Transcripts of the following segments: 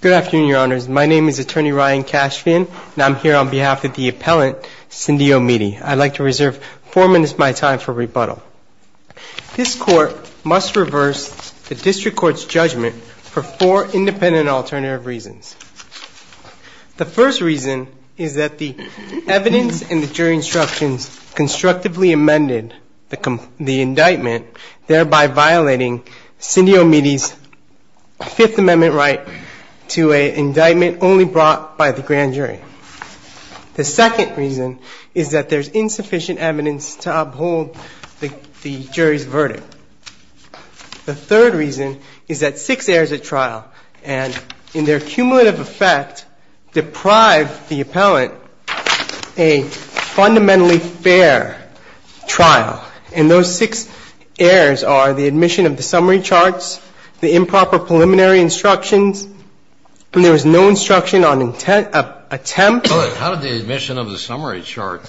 Good afternoon, Your Honors. My name is Attorney Ryan Cashfin, and I'm here on behalf of the appellant, Cindy Omidi. I'd like to reserve four minutes of my time for rebuttal. This Court must reverse the District Court's judgment for four independent and alternative reasons. The first reason is that the evidence in the jury instructions constructively amended the indictment, thereby violating Cindy Omidi's Fifth Amendment right to an indictment only brought by the grand jury. The second reason is that there's insufficient evidence to uphold the jury's verdict. The third reason is that six heirs at trial, and in their cumulative effect, deprive the appellant a fundamentally fair trial. And those six heirs are the admission of the summary charts, the improper preliminary instructions, and there is no instruction on intent of attempt. Kennedy How did the admission of the summary chart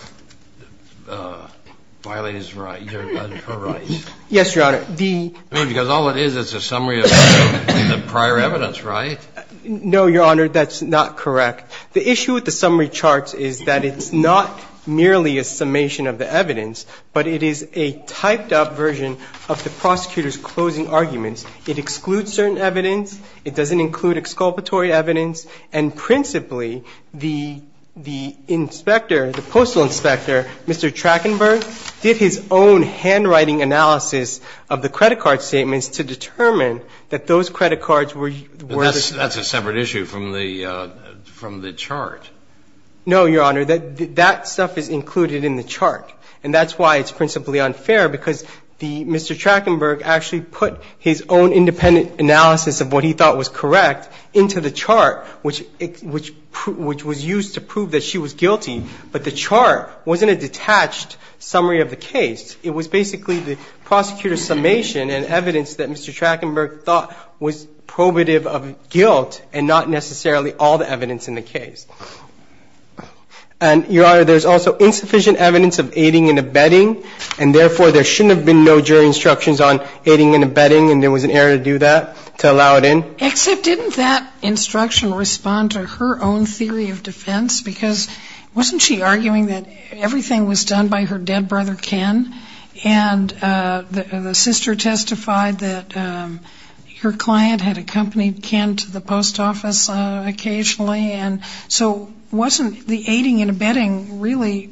violate his right, your right? Cashfin Yes, Your Honor. Kennedy Because all it is is a summary of the prior evidence, right? Cashfin No, Your Honor, that's not correct. The issue with the summary chart is that it's not merely a summation of the evidence, but it is a typed-up version of the prosecutor's closing arguments. It excludes certain evidence. It doesn't include exculpatory evidence. And principally, the inspector, the postal inspector, Mr. Trackenberg, did his own handwriting analysis of the credit card statements to determine that those credit cards were the same. And that's why it's principally unfair, because Mr. Trackenberg actually put his own independent analysis of what he thought was correct into the chart, which was used to prove that she was guilty, but the chart wasn't a detached summary of the case. It was basically the prosecutor's summation and evidence that Mr. Trackenberg thought was probative of guilt and not necessarily all the evidence in the case. And, Your Honor, there's also insufficient evidence of aiding and abetting, and therefore there shouldn't have been no jury instructions on aiding and abetting, and there was an error to do that, to allow it in? Except didn't that instruction respond to her own theory of defense? Because wasn't she arguing that everything was done by her dead brother, Ken? And the sister testified that her client had accompanied Ken to the post office occasionally, and so wasn't the aiding and abetting really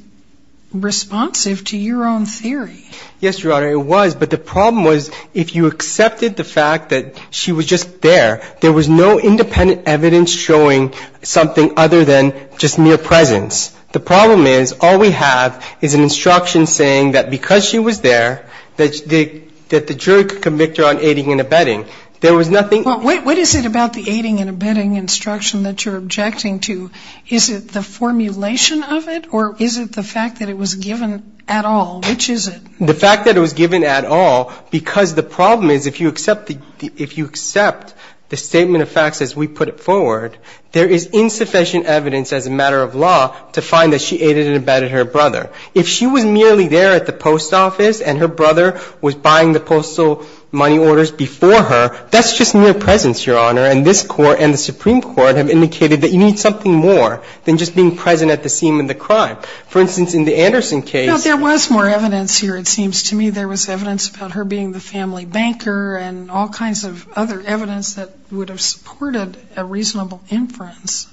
responsive to your own theory? Yes, Your Honor, it was, but the problem was if you accepted the fact that she was just there, there was no independent evidence showing something other than just mere presence. The problem is all we have is an instruction saying that because she was there, that the jury could convict her on aiding and abetting. There was nothing else. Well, what is it about the aiding and abetting instruction that you're objecting to? Is it the formulation of it, or is it the fact that it was given at all? Which is it? The fact that it was given at all, because the problem is if you accept the statement of facts as we put it forward, there is insufficient evidence as a matter of law to find that she aided and abetted her brother. If she was merely there at the post office and her brother was buying the postal money orders before her, that's just mere presence, Your Honor. And this Court and the Supreme Court have indicated that you need something more than just being present at the scene of the crime. For instance, in the Anderson case ---- Well, there was more evidence here, it seems to me. There was evidence about her being the family banker and all kinds of other evidence that would have supported a reasonable inference.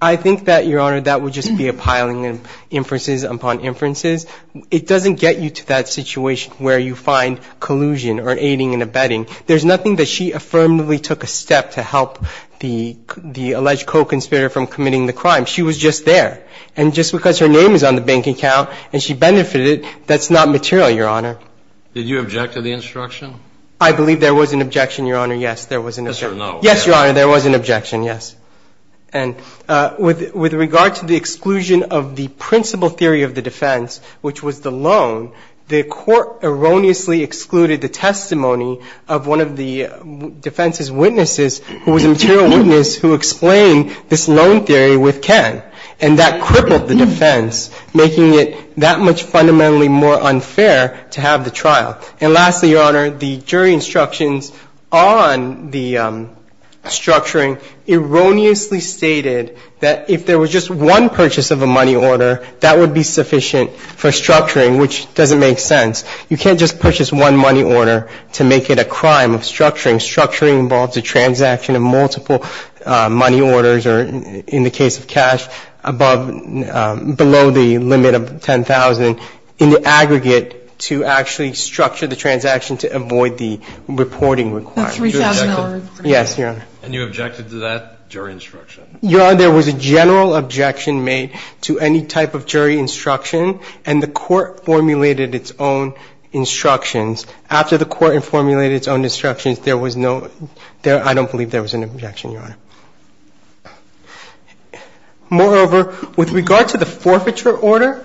I think that, Your Honor, that would just be a piling of inferences upon inferences. It doesn't get you to that situation where you find collusion or aiding and abetting. There's nothing that she affirmatively took a step to help the alleged co-conspirator from committing the crime. She was just there. And just because her name is on the bank account and she benefited, that's not material, Your Honor. Did you object to the instruction? I believe there was an objection, Your Honor. Yes, there was an objection. Yes or no? Yes, Your Honor, there was an objection, yes. And with regard to the exclusion of the principal theory of the defense, which was the loan, the Court erroneously excluded the testimony of one of the defense's witnesses who was a material witness who explained this loan theory with Ken. And that crippled the defense, making it that much fundamentally more unfair to have the trial. And lastly, Your Honor, the jury instructions on the structuring erroneously stated that if there was just one purchase of a money order, that would be sufficient for structuring, which doesn't make sense. You can't just purchase one money order to make it a crime of structuring. Structuring involves a transaction of multiple money orders or, in the case of cash, above, below the limit of $10,000 in the aggregate to actually structure the transaction to avoid the reporting requirement. That's $3,000. Yes, Your Honor. And you objected to that jury instruction? Your Honor, there was a general objection made to any type of jury instruction, and the Court formulated its own instructions. After the Court had formulated its own instructions, there was no, I don't believe there was an objection, Your Honor. Moreover, with regard to the forfeiture order,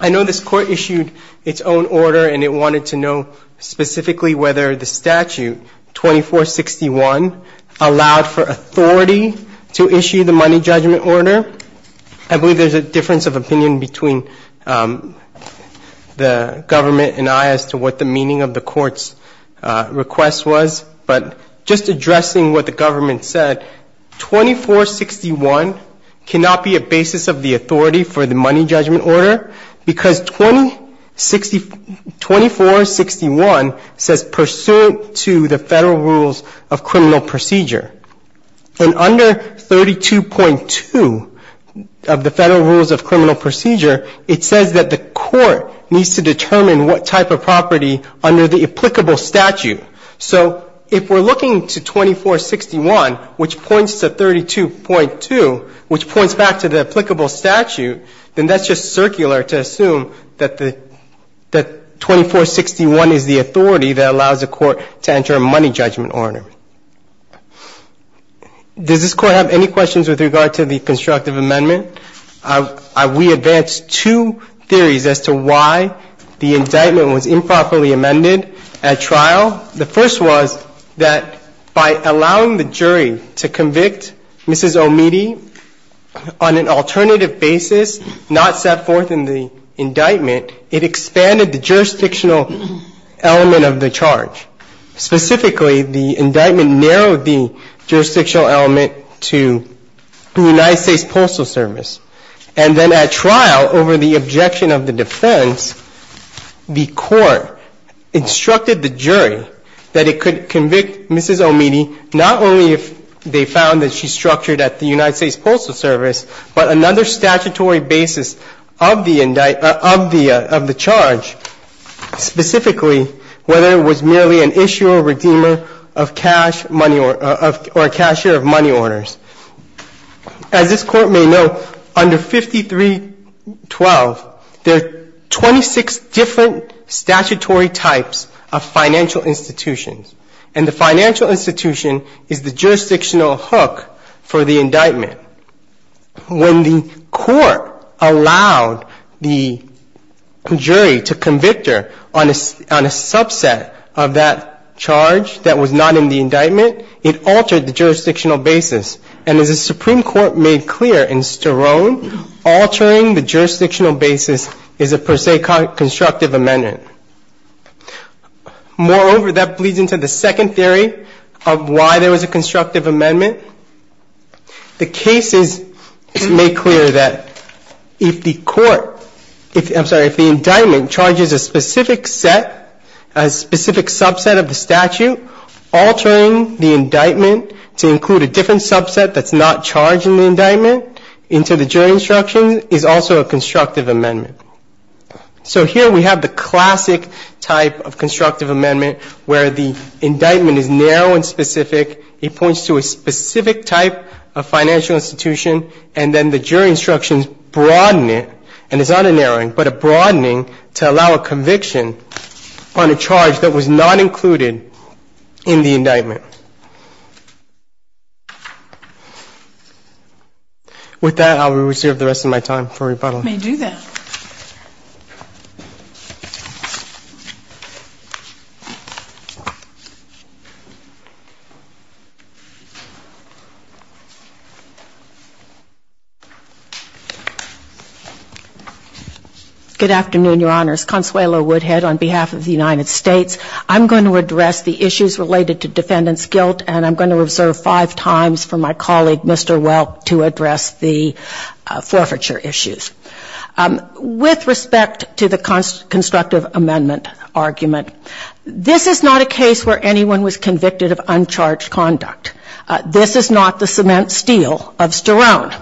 I know this Court issued its own order and it wanted to know specifically whether the statute 2461 allowed for authority to issue the money judgment order. I believe there's a difference of opinion between the government and I as to what the meaning of the Court's request was. But just addressing what the government said, 2461 cannot be a basis of the authority for the money judgment order because 2461 says pursuant to the Federal Rules of Criminal Procedure, and under 32.2 of the Federal Rules of Criminal Procedure, it says that the Court needs to determine what type of property under the applicable statute. So if we're looking to 2461, which points to 32.2, which points back to the applicable statute, then that's just circular to assume that 2461 is the authority that allows the Court to enter a money judgment order. Does this Court have any questions with regard to the constructive amendment? We advanced two theories as to why the indictment was improperly amended at trial and at the court. The first was that by allowing the jury to convict Mrs. O'Meady on an alternative basis, not set forth in the indictment, it expanded the jurisdictional element of the charge. Specifically, the indictment narrowed the jurisdictional element to the United States Postal Service. And then at trial, over the objection of the defense, the Court instructed the jury that it could convict Mrs. O'Meady not only if they found that she's structured at the United States Postal Service, but another statutory basis of the charge, specifically whether it was merely an issuer or redeemer of cash money or a cashier of money orders. As this Court may know, under 5312, there are 26 different statutory types of financial institutions, and the financial institution is the jurisdictional hook for the indictment. When the Court allowed the jury to convict her on a subset of that charge that was not in the indictment, it altered the jurisdictional basis. And as the Supreme Court made clear in Sterone, altering the jurisdictional basis is a per se constructive amendment. Moreover, that bleeds into the second theory of why there was a constructive amendment. The case is made clear that if the indictment charges a specific set, a specific subset of the statute, altering the indictment to include a different subset that's not charged in the indictment into the jury instruction is also a constructive amendment. So here we have the classic type of constructive amendment where the indictment is narrow and specific. It points to a specific type of financial institution, and then the jury instructions broaden it, and it's not a narrowing, but a broadening to allow a conviction on a charge that was not included in the indictment. With that, I will reserve the rest of my time for rebuttal. Good afternoon, Your Honors. Consuelo Woodhead on behalf of the United States. I'm going to address the issues related to defendant's guilt, and I'm going to reserve five times for my colleague, Mr. Welk, to address the forfeiture issues. With respect to the constructive amendment argument, this is not a case where anyone was convicted of uncharged conduct. This is not the cement steel of Sterone.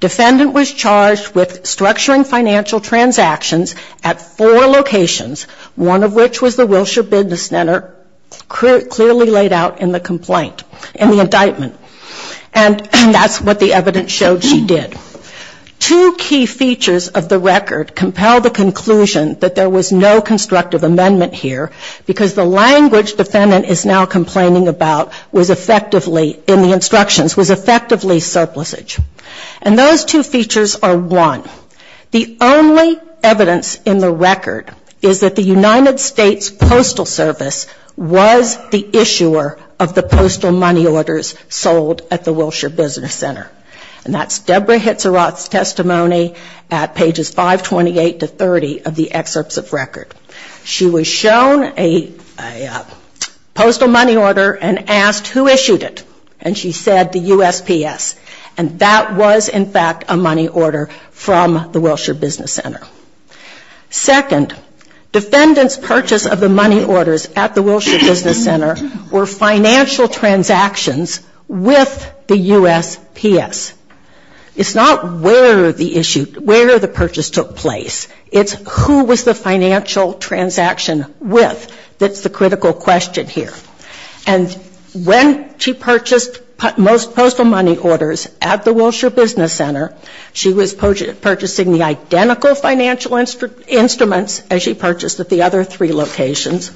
Defendant was charged with structuring financial transactions at four locations, one of which was the Wilshire Business Center, clearly laid out in the complaint, in the indictment, and that's what the evidence showed she did. Two key features of the record compel the conclusion that there was no constructive amendment here, because the language defendant is now complaining about was effectively surplusage. And those two features are one. The only evidence in the record is that the United States Postal Service was the issuer of the postal money orders sold at the Wilshire Business Center. And that's Deborah Hitzeroth's testimony at pages 528 to 30 of the excerpts of record. She was shown a postal money order and asked who issued it, and she said the USPS. And that was, in fact, a money order from the Wilshire Business Center. Second, defendant's purchase of the money orders at the Wilshire Business Center were financial transactions with the USPS. It's not where the purchase took place. It's who was the financial transaction with that's the critical question here. And when she purchased most postal money orders at the Wilshire Business Center, she was purchasing the identical financial instruments as she purchased at the other three locations.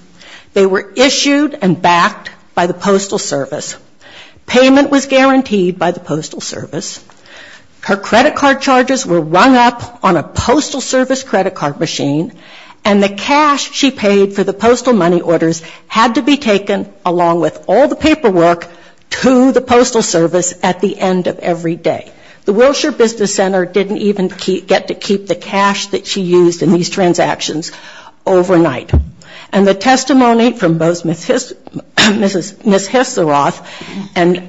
They were issued and backed by the Postal Service. Payment was guaranteed by the Postal Service. Her credit card charges were rung up on a Postal Service credit card machine, and the cash she paid for the postal money orders had to be taken along with all the paperwork to the Postal Service at the end of every day. The Wilshire Business Center didn't even get to keep the cash that she used in these transactions overnight. And the testimony from both Ms. Hisseroth and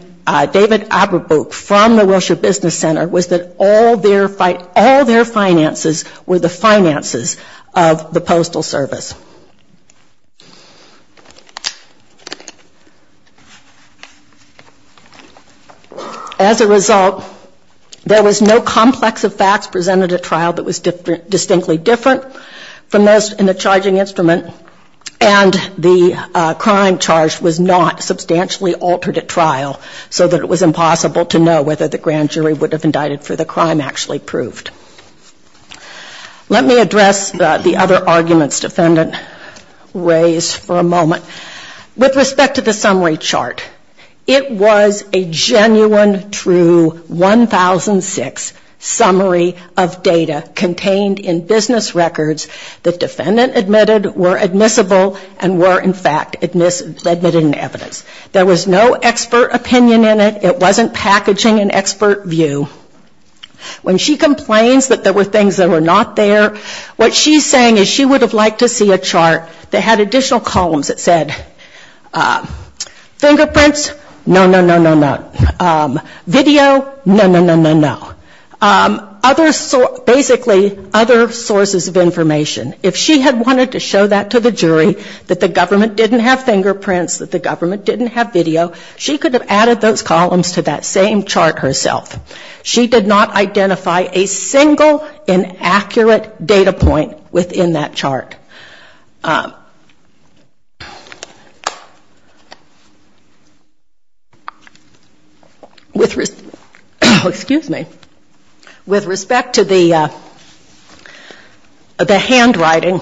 David Aberbrook from the Wilshire Business Center was that all their finances were the finances of the Postal Service. As a result, there was no complex of facts presented at trial that was relevant, and the crime charge was not substantially altered at trial so that it was impossible to know whether the grand jury would have indicted for the crime actually proved. Let me address the other arguments defendant raised for a moment. With respect to the summary chart, it was a genuine, true 1006 summary of data contained in business records that defendant admitted were admissible and were in fact admitted in evidence. There was no expert opinion in it. It wasn't packaging an expert view. When she complains that there were things that were not there, what she's saying is she would have liked to see a chart that had additional columns that said fingerprints, no, no, no, no, no. Video, no, basically other sources of information. If she had wanted to show that to the jury, that the government didn't have fingerprints, that the government didn't have video, she could have added those columns to that same chart herself. She did not identify a single inaccurate data point within that chart. With respect to the handwriting,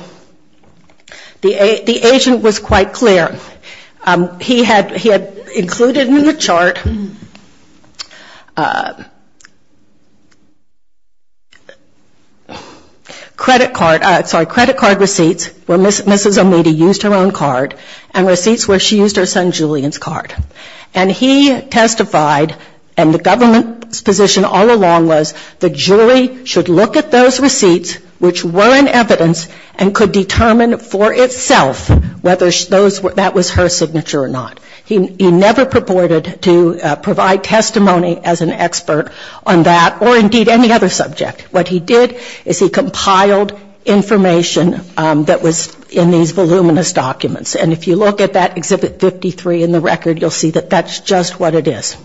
the agent was quite clear. He had included in the chart credit card, sorry, credit card receipts, credit card receipts, where Mrs. O'Meady used her own card and receipts where she used her son Julian's card. And he testified, and the government's position all along was the jury should look at those receipts which were in evidence and could determine for itself whether that was her signature or not. He never purported to provide testimony as an expert on that or indeed any other subject. What he did is he compiled information that was in these voluminous documents. And if you look at that Exhibit 53 in the record, you'll see that that's just what it is.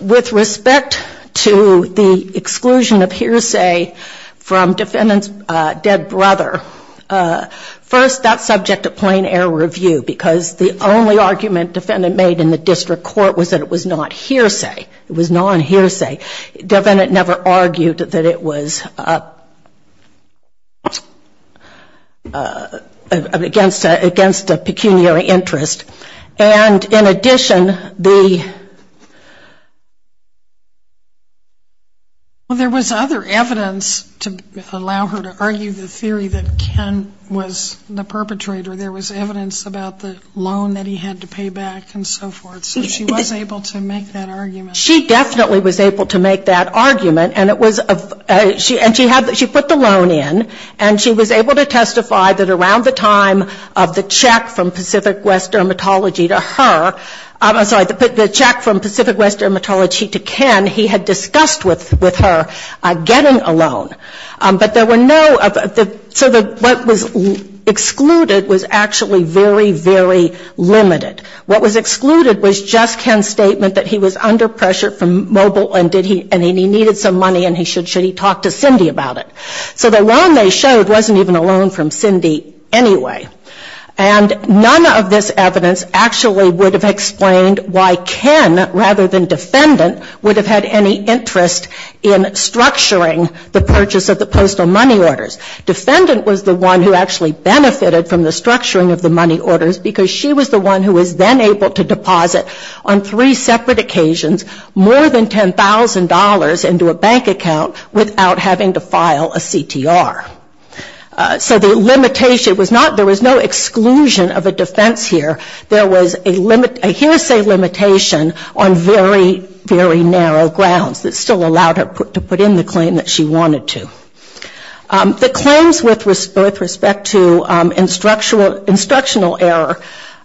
With respect to the exclusion of hearsay from defendant's dead brother, first that's subject to plain air review, because the only argument defendant made in the case was that the defendant never argued that it was against a pecuniary interest. And in addition, the there was other evidence to allow her to argue the theory that Ken was the perpetrator. There was evidence about the loan that he had to pay back and so forth. So she was able to make that argument. She definitely was able to make that argument. And she put the loan in and she was able to testify that around the time of the check from Pacific West Dermatology to her, I'm sorry, the check from Pacific West Dermatology to Ken, he had discussed with her getting a loan. But there were no so what was excluded was actually very, very limited. What was excluded was just Ken's statement that he was under pressure from mobile and he needed some money and should he talk to Cindy about it. So the loan they showed wasn't even a loan from Cindy anyway. And none of this evidence actually would have explained why Ken, rather than defendant, would have had any interest in this. Defendant was the one who actually benefited from the structuring of the money orders because she was the one who was then able to deposit on three separate occasions more than $10,000 into a bank account without having to file a CTR. So the limitation was not, there was no exclusion of a defense here. There was a hearsay limitation on very, very narrow grounds that still allowed her to put in the claim that she wanted to. The claims with respect to instructional error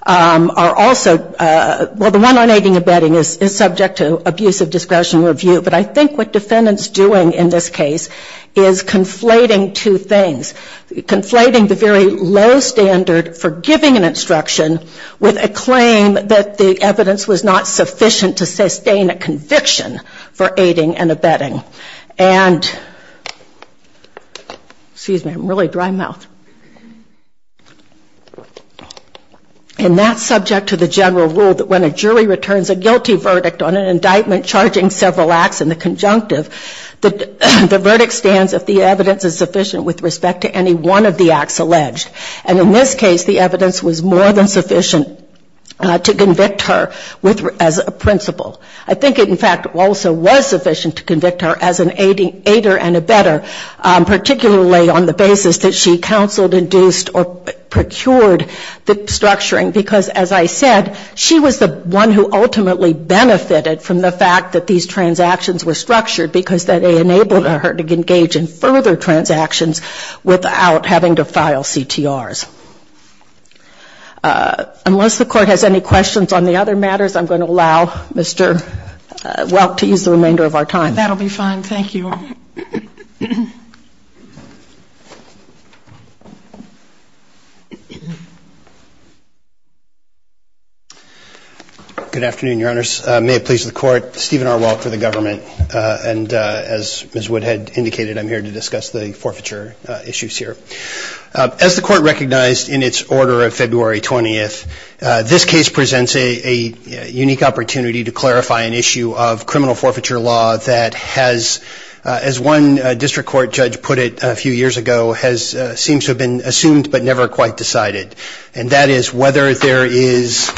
are also, well, the one on aiding and abetting is subject to abusive discretion review. But I think what defendant's doing in this case is conflating two things. Conflating the very low standard for giving an instruction with a claim that the evidence was not sufficient. And that's subject to the general rule that when a jury returns a guilty verdict on an indictment charging several acts in the conjunctive, the verdict stands if the evidence is sufficient with respect to any one of the acts alleged. And in this case, the evidence was more than sufficient to convict her as a principal. I think it, in fact, also was sufficient to convict her as an aider and abetter, particularly on the basis that she counseled, induced or procured the structuring. Because as I said, she was the one who ultimately benefited from the fact that these transactions were structured because they enabled her to engage in further transactions without having to file CTRs. Unless the Court has any questions on the other matters, I'm going to allow Mr. Welk to use the remainder of our time. That will be fine. Thank you. Good afternoon, Your Honors. May it please the Court. Stephen R. Welk for the government. And as Ms. Wood had indicated, I'm here to discuss the forfeiture case that was finalized in its order of February 20th. This case presents a unique opportunity to clarify an issue of criminal forfeiture law that has, as one district court judge put it a few years ago, has seemed to have been assumed but never quite decided. And that is whether there is,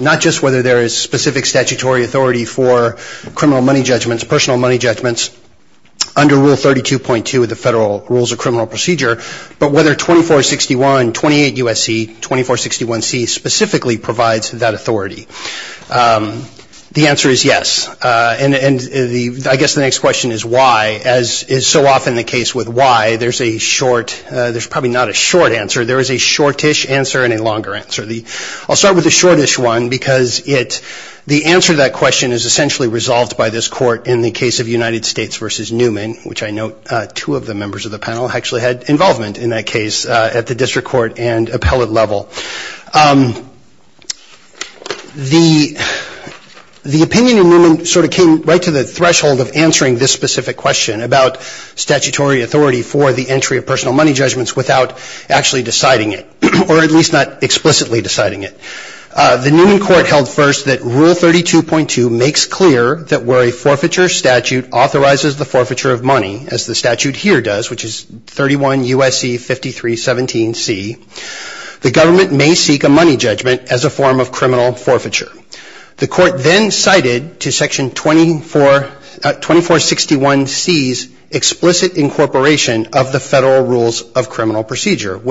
not just whether there is specific statutory authority for criminal money judgments, personal money judgments, under Rule 32.2 of the Federal Rules of Criminal Procedure, but whether 2461, 28 U.S.C., 2461C, specifically provides that authority. The answer is yes. And I guess the next question is why, as is so often the case with why, there's a short, there's probably not a short answer, there is a shortish answer and a longer answer. I'll start with the case of United States v. Newman, which I note two of the members of the panel actually had involvement in that case at the district court and appellate level. The opinion in Newman sort of came right to the threshold of answering this specific question about statutory authority for the entry of personal money judgments without actually deciding it, or at least not explicitly deciding it. The Newman court held first that Rule 32.2 makes clear that where a forfeiture statute authorizes the forfeiture of money, as the statute here does, which is 31 U.S.C., 5317C, the government may seek a money judgment as a form of criminal forfeiture. The court then cited to Section 24, 2461C's explicit incorporation of the Federal Rules of Criminal Forfeiture in Rule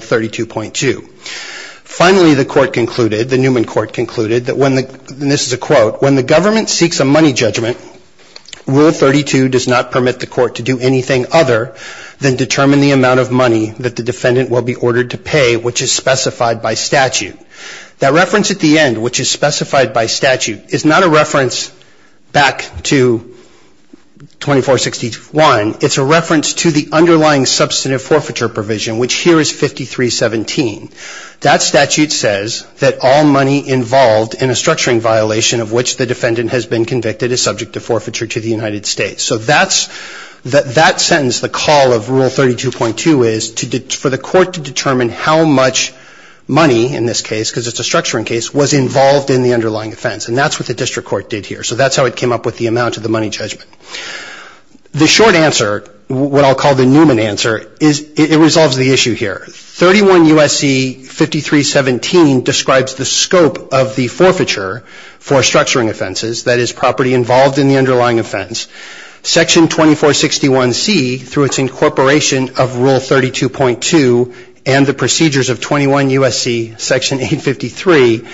32.2. Finally, the court concluded, the Newman court concluded, and this is a quote, when the government seeks a money judgment, Rule 32 does not permit the court to do anything other than determine the amount of money that the defendant will be ordered to pay, which is specified by statute. That reference at the end, which is specified by statute, is not a violation of Section 24, 2461C. That statute says that all money involved in a structuring violation of which the defendant has been convicted is subject to forfeiture to the United States. So that's, that sentence, the call of Rule 32.2 is for the court to determine how much money in this case, because it's a structuring case, was involved in the underlying offense. And that's what the U.S.C. 5317 describes the scope of the forfeiture for structuring offenses, that is, property involved in the underlying offense. Section 2461C, through its incorporation of Rule 32.2 and the procedures of 21 U.S.C. Section 853,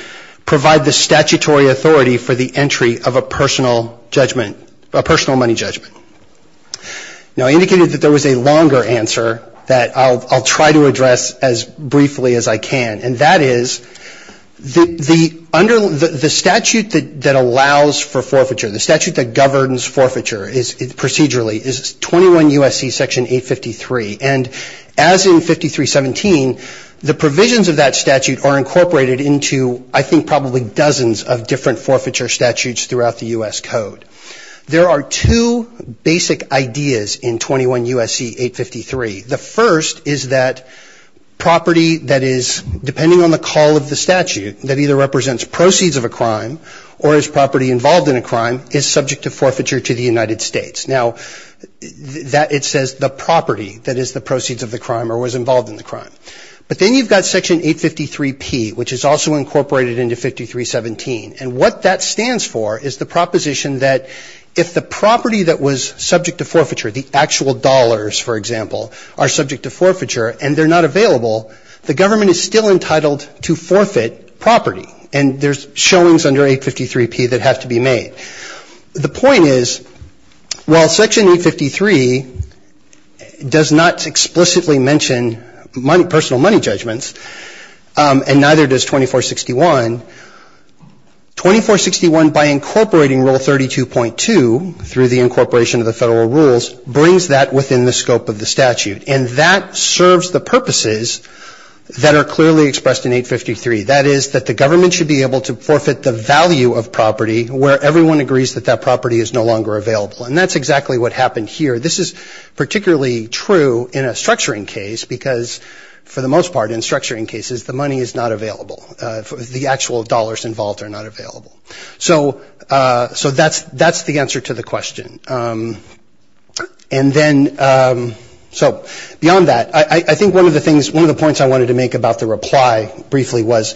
provide the statutory authority for the entry of a personal judgment, a personal money judgment. Now, I indicated that there was a longer answer that I'll, I'll try to address as briefly as I can. And that is, the, the under, the statute that, that allows for forfeiture, the statute that governs forfeiture is procedurally is 21 U.S.C. Section 853. And as in 5317, the provisions of that statute are incorporated into, I think, probably dozens of different forfeiture statutes throughout the U.S. Code. There are two basic ideas in 21 U.S.C. 853. The first is that property that is, depending on the call of the statute, that either represents proceeds of a crime, or is property involved in a crime, is subject to forfeiture to the United States. Now, that, it says the property that is the proceeds of the crime or was involved in the crime. But then you've got Section 853P, which is also incorporated into 5317. And what that stands for is the available, the government is still entitled to forfeit property. And there's showings under 853P that have to be made. The point is, while Section 853 does not explicitly mention money, personal money judgments, and neither does 2461, 2461 by incorporating Rule 32.2, through the incorporation of the Federal rules, brings that within the scope of the statute. And that sort of, that sort of, that sort of serves the purposes that are clearly expressed in 853. That is, that the government should be able to forfeit the value of property where everyone agrees that that property is no longer available. And that's exactly what happened here. This is particularly true in a structuring case, because for the most part, in structuring cases, the money is not available. The actual dollars are not available. And I think one of the things, one of the points I wanted to make about the reply briefly was,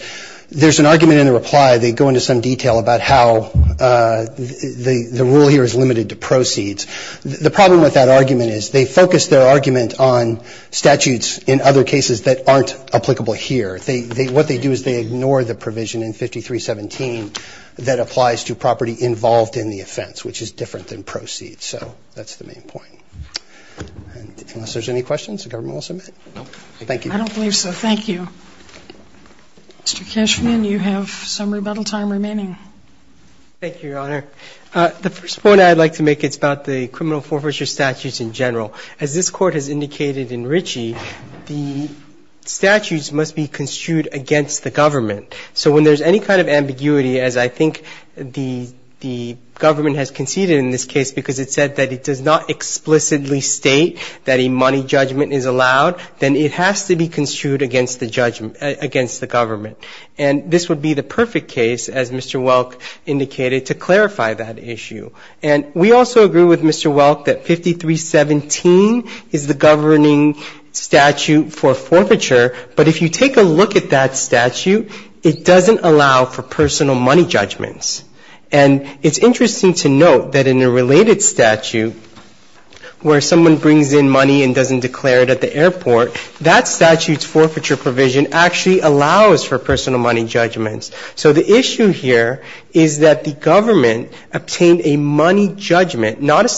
there's an argument in the reply, they go into some detail about how the rule here is limited to proceeds. The problem with that argument is they focus their argument on statutes in other cases that aren't applicable here. What they do is they ignore the provision in 5317 that where everyone agrees that that property is no longer available. Thank you. I don't believe so. Thank you. Mr. Cashman, you have some rebuttal time remaining. Thank you, Your Honor. The first point I'd like to make, it's about the criminal forfeiture statutes in general. As this Court has indicated in Ritchie, the statutes must be construed against the government. So when there's any kind of ambiguity, as I think the government has conceded in this case, because it said that it does not explicitly state that a money judgment is allowed, then it has to be construed against the government. And this would be the perfect case, as Mr. Welk indicated, to clarify that issue. And we also agree with Mr. Welk that 5317 is the governing statute for forfeiture, but if you take a look at that statute, it doesn't allow for personal money judgments. And it's interesting to note that in a related statute, where someone brings in money and doesn't declare it at the airport, that statute's forfeiture provision actually allows for personal money judgments. So the issue here is that the government obtained a money judgment, not a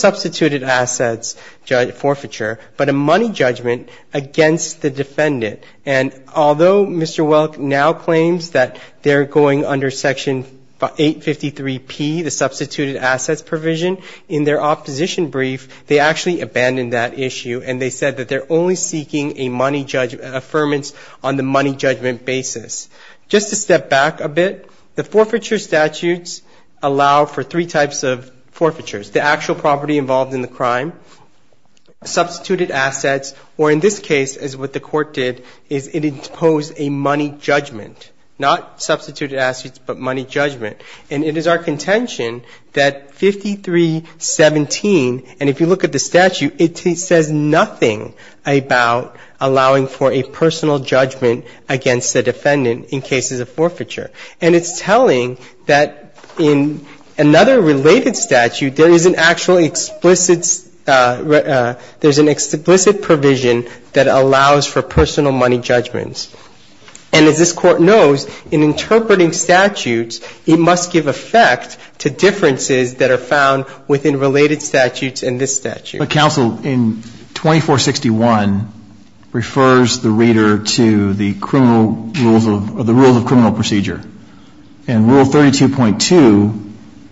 money judgment, against the defendant. And although Mr. Welk now claims that they're going under Section 853P, the substituted assets provision, in their opposition brief, they actually abandoned that issue, and they said that they're only seeking a money judgment, an affirmance on the money judgment basis. Just to step back a bit, the forfeiture statutes allow for three types of forfeitures, the actual property involved in the crime, substituted assets, or in this case, as what the Court did, is it imposed a money judgment, not substituted assets, but money judgment. And it is our contention that 5317, and if you look at the statute, it says nothing about allowing for a personal judgment against the defendant in cases of forfeiture. And it's telling that in another related statute, there is an actual explicit ‑‑ there's an explicit provision that allows for personal money judgments. And as this Court knows, in interpreting statutes, it must give effect to differences that are found within related statutes in this statute. But, counsel, in 2461, refers the reader to the criminal rules of ‑‑ the rules of criminal procedure. In Rule 32.2,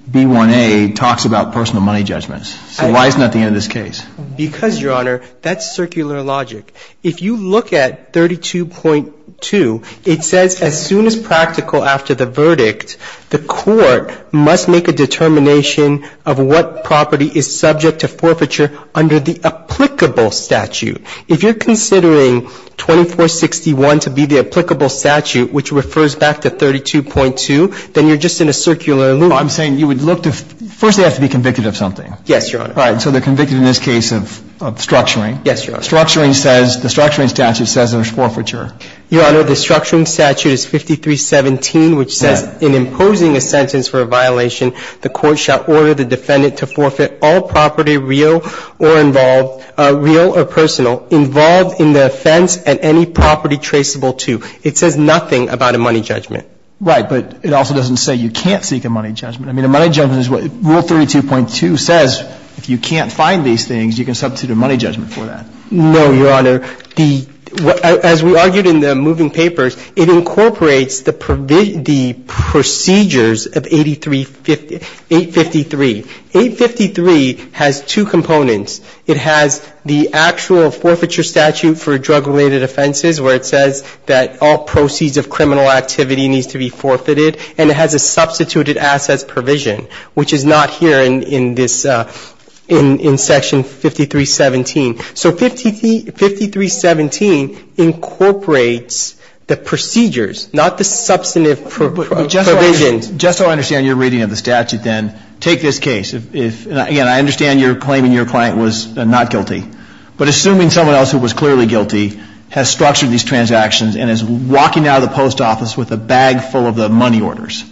B1A talks about personal money judgment so why is nothing in this case? Because, Your Honor, that's circular logic. If you look at 32.2, it says as soon as practical after the verdict, the Court must make a determination of what property is subject to forfeiture under the applicable statute. If you're considering 2461 to be the applicable statute, which refers back to 32.2, then you're just in a circular loop. Well, I'm saying you would look to ‑‑ first, they have to be convicted of something. Yes, Your Honor. All right. So they're convicted in this case of structuring. Yes, Your Honor. Structuring says, the structuring statute says there's forfeiture. Your Honor, the structuring statute is 5317, which says in imposing a sentence for a violation, the Court shall order the defendant to forfeit all property real or involved, real or personal, involved in the offense and any property traceable to. It says nothing about a money judgment. Right. But it also doesn't say you can't seek a money judgment. I mean, a money judgment is what ‑‑ Rule 32.2 says if you can't find these things, you can substitute a money judgment for that. No, Your Honor. The ‑‑ as we argued in the moving papers, it incorporates the procedures of 853. 853 has two components. It has the actual forfeiture statute for drug‑related offenses where it says that all proceeds of criminal activity needs to be forfeited, and it has a substituted assets provision, which is not here in this ‑‑ in section 5317. So 5317 incorporates the procedures, not the substantive provisions. Just so I understand your reading of the statute, then, take this case. Again, I understand you're claiming your client was not guilty. But assuming someone else who was clearly guilty has structured these transactions and is walking out of the post office with a bag full of the money orders,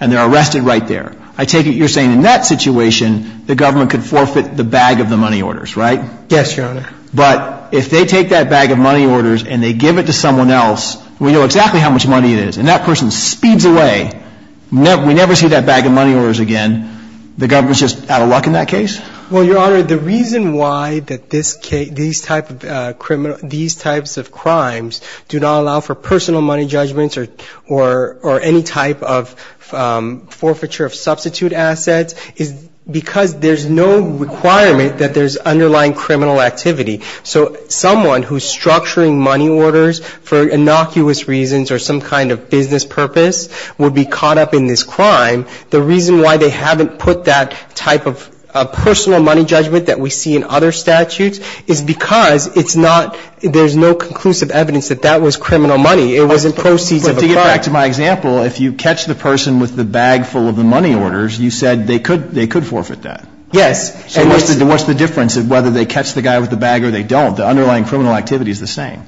and they're arrested right there, I take it you're saying in that situation the government could forfeit the bag of the money orders, right? Yes, Your Honor. But if they take that bag of money orders and they give it to someone else, we know exactly how much money it is, and that person speeds away, we never see that bag of money orders again, the government's just out of luck in that case? Well, Your Honor, the reason why that this case ‑‑ these types of crimes do not allow for personal money judgments or any type of forfeiture of substitute assets is because there's no requirement that there's underlying criminal activity. So someone who's structuring money orders for innocuous reasons or some kind of business purpose would be caught up in this crime. The reason why they haven't put that type of personal money judgment that we see in other statutes is because it's not ‑‑ there's no conclusive evidence that that was criminal money. It wasn't proceeds of a crime. But to get back to my example, if you catch the person with the bag full of the money orders, you said they could forfeit that. Yes. So what's the difference of whether they catch the guy with the bag or they don't? The underlying criminal activity is the same.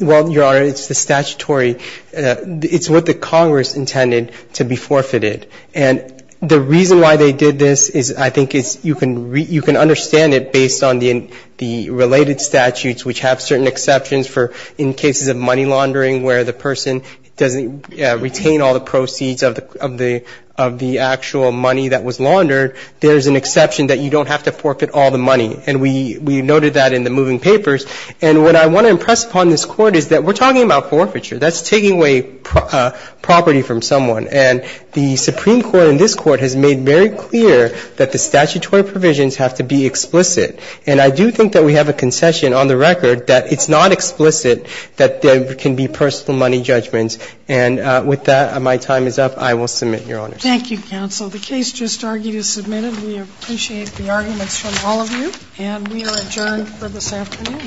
Well, Your Honor, it's the statutory ‑‑ it's what the Congress intended to be forfeited. And the reason why they did this is I think is you can ‑‑ you can understand it based on the related statutes which have certain exceptions for in cases of money laundering where the person doesn't retain all the proceeds of the actual money that was laundered, there's an exception that you don't have to forfeit all the money. And we noted that in the moving papers. And what I want to impress upon this Court is that we're talking about forfeiture. That's taking away property from someone. And the Supreme Court in this Court has made very clear that the statutory provisions have to be explicit. And I do think that we have a concession on the record that it's not explicit that there can be personal money judgments. And with that, my time is up. I will submit, Your Honors. Thank you, counsel. The case just argued is submitted. We appreciate the arguments from all of you. And we are adjourned for this afternoon.